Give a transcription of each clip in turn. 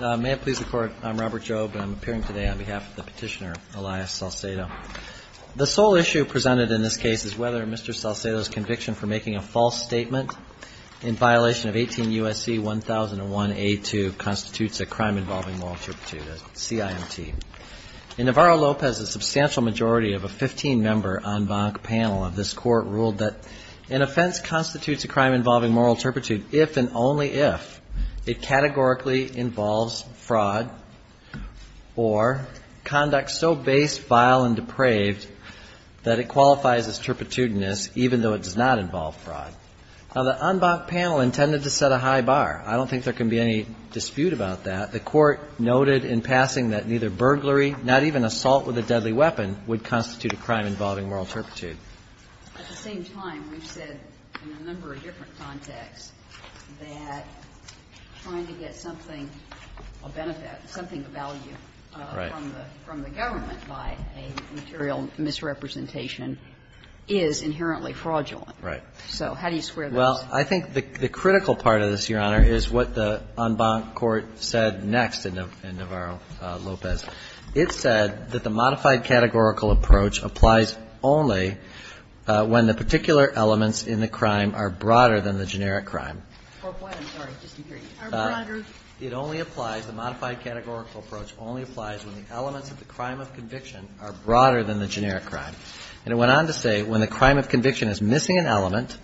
May it please the Court, I'm Robert Jobe and I'm appearing today on behalf of the petitioner Elias Salcedo. The sole issue presented in this case is whether Mr. Salcedo's conviction for making a false statement in violation of 18 U.S.C. 1001A2 constitutes a crime involving moral turpitude, a CIMT. In Navarro-Lopez, a substantial majority of a 15-member en banc panel of this Court ruled that an offense constitutes a crime involving moral turpitude if and only if it categorically involves fraud or conduct so base, vile, and depraved that it qualifies as turpitudinous even though it does not involve fraud. Now, the en banc panel intended to set a high bar. I don't think there can be any dispute about that. The Court noted in passing that neither burglary, not even assault with a deadly weapon, would constitute a crime involving moral turpitude. At the same time, we've said in a number of different contexts that trying to get something, a benefit, something of value from the government by a material misrepresentation is inherently fraudulent. Right. So how do you square those? Well, I think the critical part of this, Your Honor, is what the en banc Court said next in Navarro-Lopez. It said that the modified categorical approach applies only when the particular elements in the crime are broader than the generic crime. Or what? I'm sorry. Just a period. Are broader? It only applies, the modified categorical approach only applies when the elements of the crime of conviction are broader than the generic crime. And it went on to say when the crime of conviction is missing an element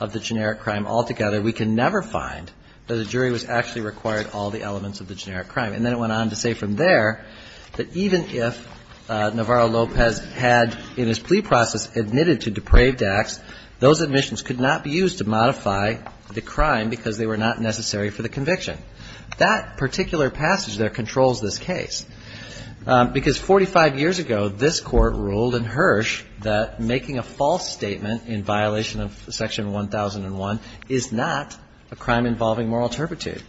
of the generic crime altogether, we can never find that a jury was actually required all the elements of the generic crime. And then it went on to say from there that even if Navarro-Lopez had in his plea process admitted to depraved acts, those admissions could not be used to modify the crime because they were not necessary for the conviction. That particular passage there controls this case. Because 45 years ago, this Court ruled in Hirsch that making a false statement in violation of Section 1001 is not a crime involving moral turpitude.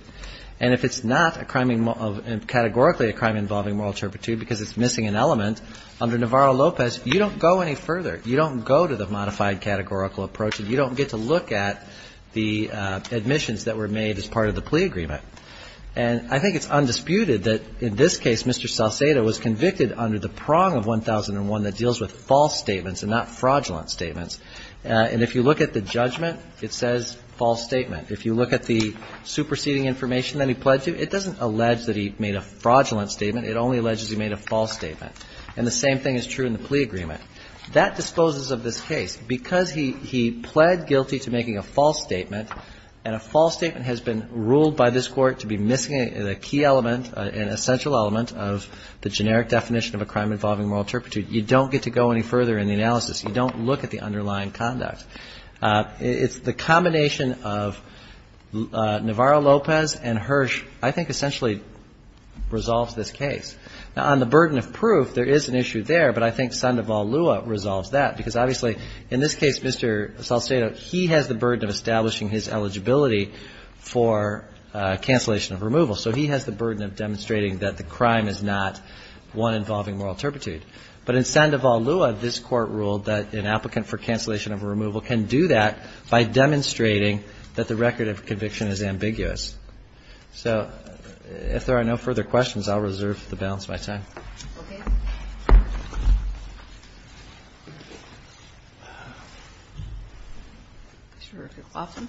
And if it's not categorically a crime involving moral turpitude because it's missing an element, under Navarro-Lopez you don't go any further. You don't go to the modified categorical approach and you don't get to look at the admissions that were made as part of the plea agreement. And I think it's undisputed that in this case Mr. Salcedo was convicted under the prong of 1001 that deals with false statements and not fraudulent statements. And if you look at the judgment, it says false statement. If you look at the superseding information that he pled to, it doesn't allege that he made a fraudulent statement. It only alleges he made a false statement. And the same thing is true in the plea agreement. That disposes of this case. Because he pled guilty to making a false statement, and a false statement has been ruled by this Court to be missing a key element, an essential element of the generic definition of a crime involving moral turpitude, you don't get to go any further in the analysis. You don't look at the underlying conduct. It's the combination of Navarro-Lopez and Hirsch I think essentially resolves this case. Now, on the burden of proof, there is an issue there, but I think Sandoval-Lua resolves that. Because obviously in this case Mr. Salcedo, he has the burden of establishing his eligibility for cancellation of removal. So he has the burden of demonstrating that the crime is not one involving moral turpitude. But in Sandoval-Lua, this Court ruled that an applicant for cancellation of removal can do that by demonstrating that the record of conviction is ambiguous. So if there are no further questions, I'll reserve the balance of my time. Okay. Mr. McLaughlin.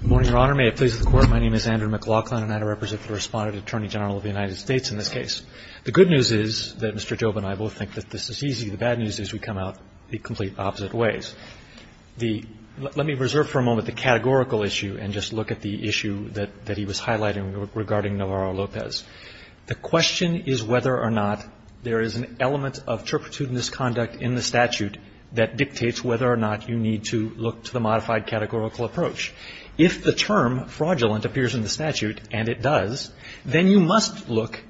Good morning, Your Honor. May it please the Court. My name is Andrew McLaughlin, and I represent the Respondent Attorney General of the United States in this case. The good news is that Mr. Joba and I both think that this is easy. The bad news is we come out the complete opposite ways. The – let me reserve for a moment the categorical issue and just look at the issue that he was highlighting regarding Navarro-Lopez. The question is whether or not there is an element of turpitude in this conduct in the statute that dictates whether or not you need to look to the modified categorical approach. If the term fraudulent appears in the statute, and it does, then you must look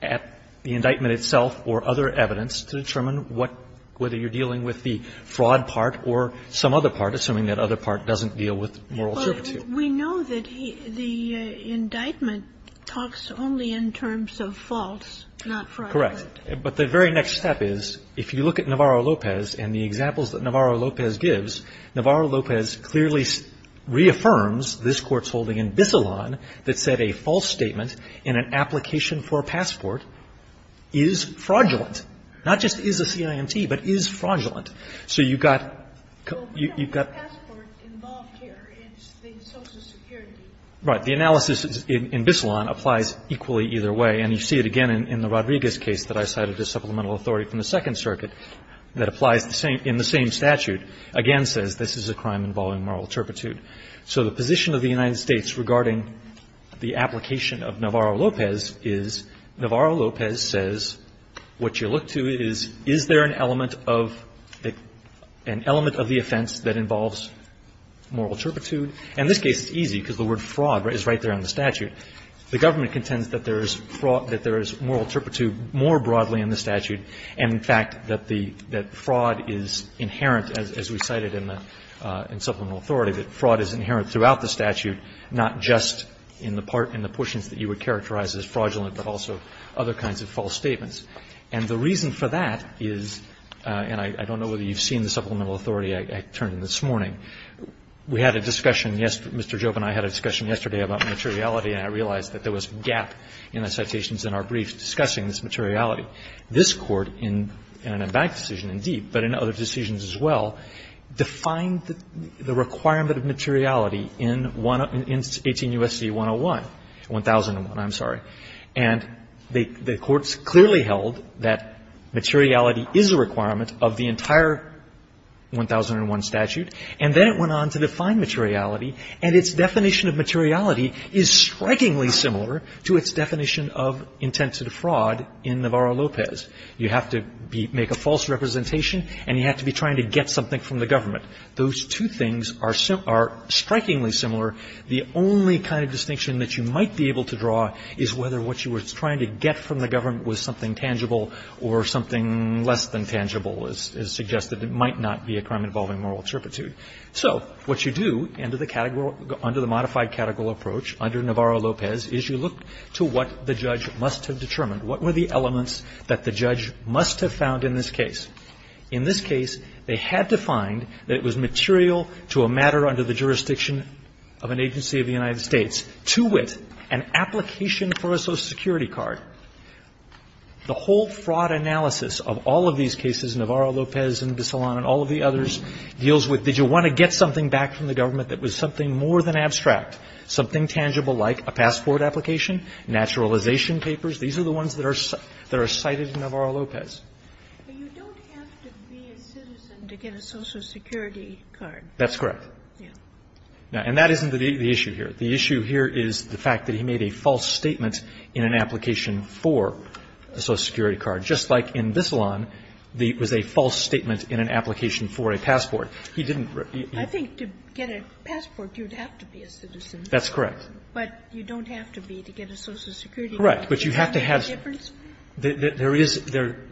at the indictment itself or other evidence to determine what – whether you're dealing with the fraud part or some other part, assuming that other part doesn't deal with moral turpitude. But we know that the indictment talks only in terms of false, not fraudulent. Correct. But the very next step is, if you look at Navarro-Lopez and the examples that Navarro-Lopez gives, Navarro-Lopez clearly reaffirms this Court's holding in Bissalon that said a false statement in an application for a passport is fraudulent, not just is a CIMT, but is fraudulent. So you've got – you've got – Well, we don't have a passport involved here. It's the Social Security. Right. The analysis in Bissalon applies equally either way. And you see it again in the Rodriguez case that I cited as supplemental authority from the Second Circuit that applies the same – in the same statute, again says this is a crime involving moral turpitude. So the position of the United States regarding the application of Navarro-Lopez is Navarro-Lopez says what you look to is, is there an element of the – an element of the offense that involves moral turpitude? And in this case, it's easy because the word fraud is right there on the statute. The government contends that there is fraud – that there is moral turpitude more broadly in the statute and, in fact, that the – that fraud is inherent as we cited in the – in supplemental authority, that fraud is inherent throughout the statute, not just in the part – in the portions that you would characterize as fraudulent, but also other kinds of false statements. And the reason for that is – and I don't know whether you've seen the supplemental authority I turned in this morning. We had a discussion – Mr. Jobe and I had a discussion yesterday about materiality and I realized that there was a gap in the citations in our brief discussing this materiality. This Court in an Embankment decision, indeed, but in other decisions as well, defined the requirement of materiality in 18 U.S.C. 101 – 1001, I'm sorry. And the courts clearly held that materiality is a requirement of the entire 1001 statute, and then it went on to define materiality and its definition of materiality is strikingly similar to its definition of intent to defraud in Navarro-Lopez. You have to be – make a false representation and you have to be trying to get something from the government. Those two things are strikingly similar. The only kind of distinction that you might be able to draw is whether what you were trying to get from the government was something tangible or something less than tangible, as suggested. It might not be a crime involving moral turpitude. So what you do under the category – under the modified category approach under Navarro-Lopez is you look to what the judge must have determined. What were the elements that the judge must have found in this case? In this case, they had to find that it was material to a matter under the jurisdiction of an agency of the United States, to wit, an application for a Social Security card. The whole fraud analysis of all of these cases, Navarro-Lopez and Bissalon and all the others, deals with did you want to get something back from the government that was something more than abstract, something tangible like a passport application, naturalization papers. These are the ones that are cited in Navarro-Lopez. But you don't have to be a citizen to get a Social Security card. That's correct. Yeah. And that isn't the issue here. The issue here is the fact that he made a false statement in an application for a Social Security card. Just like in Bissalon, it was a false statement in an application for a passport. He didn't. I think to get a passport, you'd have to be a citizen. That's correct. But you don't have to be to get a Social Security card. Correct. But you have to have. Is there any difference? There is.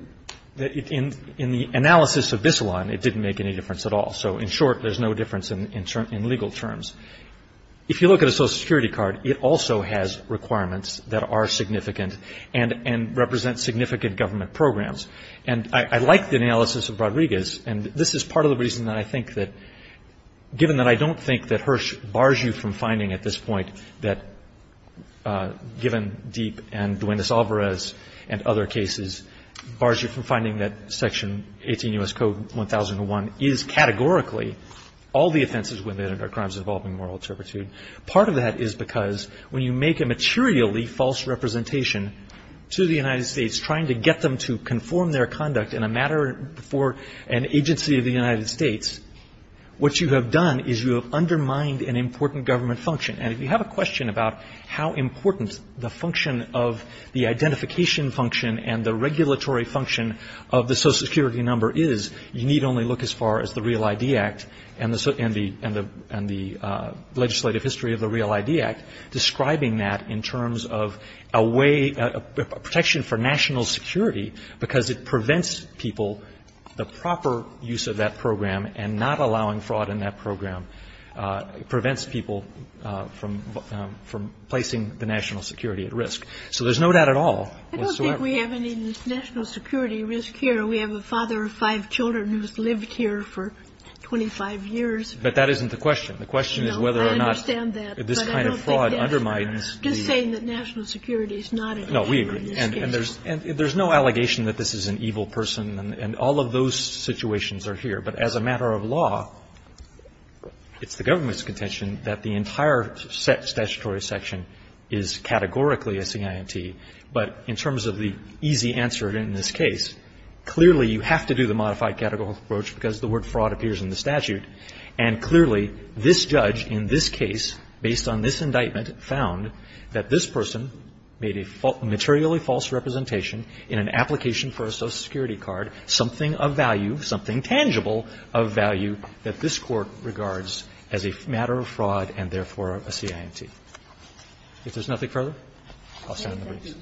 In the analysis of Bissalon, it didn't make any difference at all. So in short, there's no difference in legal terms. If you look at a Social Security card, it also has requirements that are significant and represent significant government programs. And I like the analysis of Rodriguez. And this is part of the reason that I think that, given that I don't think that Hirsch bars you from finding at this point that, given Deep and Duendes-Alvarez and other cases, bars you from finding that Section 18 U.S. Code 1001 is categorically all the offenses when they're crimes involving moral turpitude. Part of that is because when you make a materially false representation to the United States, trying to get them to conform their conduct in a matter for an agency of the United States, what you have done is you have undermined an important government function. And if you have a question about how important the function of the identification function and the regulatory function of the Social Security number is, you need only look as far as the Real ID Act and the legislative history of the Real ID Act describing that in terms of a way, a protection for national security, because it prevents people, the proper use of that program and not allowing fraud in that program prevents people from placing the national security at risk. So there's no doubt at all. I don't think we have any national security risk here. We have a father of five children who's lived here for 25 years. But that isn't the question. The question is whether or not this kind of fraud undermines the risk. I'm just saying that national security is not at risk. No, we agree. And there's no allegation that this is an evil person. And all of those situations are here. But as a matter of law, it's the government's contention that the entire statutory section is categorically a CIMT. But in terms of the easy answer in this case, clearly, you have to do the modified categorical approach because the word fraud appears in the statute. And clearly, this judge in this case, based on this indictment, found that this person made a materially false representation in an application for a Social Security card, something of value, something tangible of value that this Court regards as a matter of fraud and therefore a CIMT. If there's nothing further, I'll stand in the race.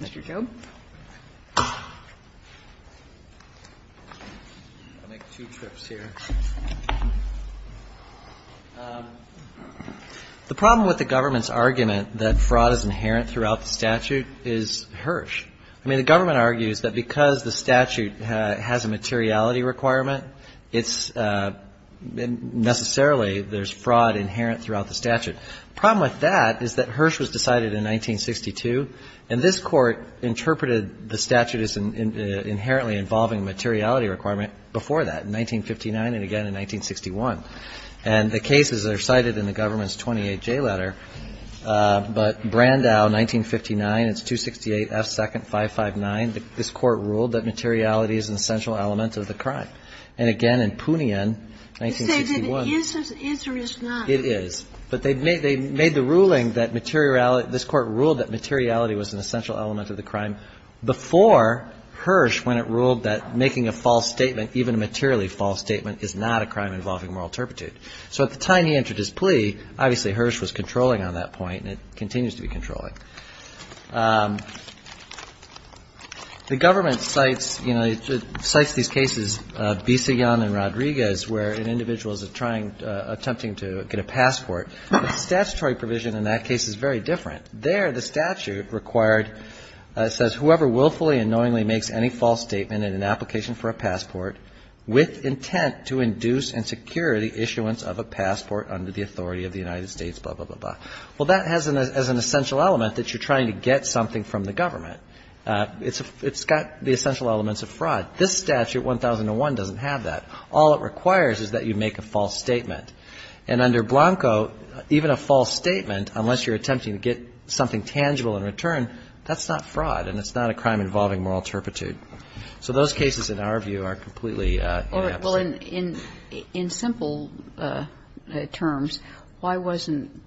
Mr. Job? I'll make two trips here. The problem with the government's argument that fraud is inherent throughout the statute is harsh. I mean, the government argues that because the statute has a materiality requirement, it's necessarily there's fraud inherent throughout the statute. The problem with that is that Hirsch was decided in 1962, and this Court interpreted the statute as inherently involving materiality requirement before that, in 1959 and again in 1961. And the cases are cited in the government's 28J letter. But Brandau, 1959, it's 268 F. 2nd 559. This Court ruled that materiality is an essential element of the crime. And again, in Poonian, 1961. It says it is or is not. It is. But they made the ruling that materiality, this Court ruled that materiality was an essential element of the crime before Hirsch when it ruled that making a false statement, even a materially false statement, is not a crime involving moral turpitude. So at the time he entered his plea, obviously Hirsch was controlling on that point and it continues to be controlling. The government cites, you know, it cites these cases, Bissigan and Rodriguez, where an individual is trying, attempting to get a passport. Statutory provision in that case is very different. There the statute required, it says, whoever willfully and knowingly makes any false statement in an application for a passport with intent to induce and secure the issuance of a passport under the authority of the United States, blah, blah, blah, blah. Well, that has an essential element that you're trying to get something from the government. It's got the essential elements of fraud. This statute, 1001, doesn't have that. All it requires is that you make a false statement. And under Blanco, even a false statement, unless you're attempting to get something tangible in return, that's not fraud and it's not a crime involving moral turpitude. So those cases, in our view, are completely inept. Kagan. Well, in simple terms, why wasn't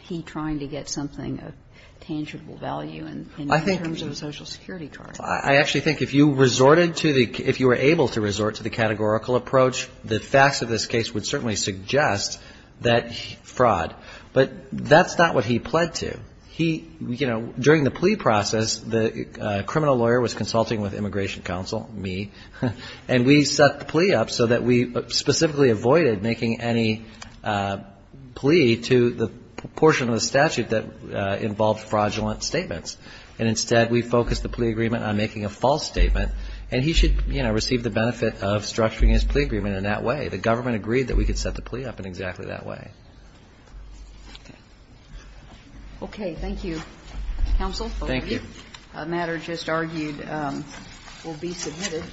he trying to get something of tangible value in terms of a Social Security charge? I actually think if you resorted to the, if you were able to resort to the categorical approach, the facts of this case would certainly suggest that fraud. But that's not what he pled to. He, you know, during the plea process, the criminal lawyer was consulting with Immigration Counsel, me, and we set the plea up so that we specifically avoided making any plea to the portion of the statute that involved fraudulent statements. And instead, we focused the plea agreement on making a false statement. And he should, you know, receive the benefit of structuring his plea agreement in that way. The government agreed that we could set the plea up in exactly that way. Okay. Okay, thank you, Counsel. Thank you. A matter just argued will be submitted.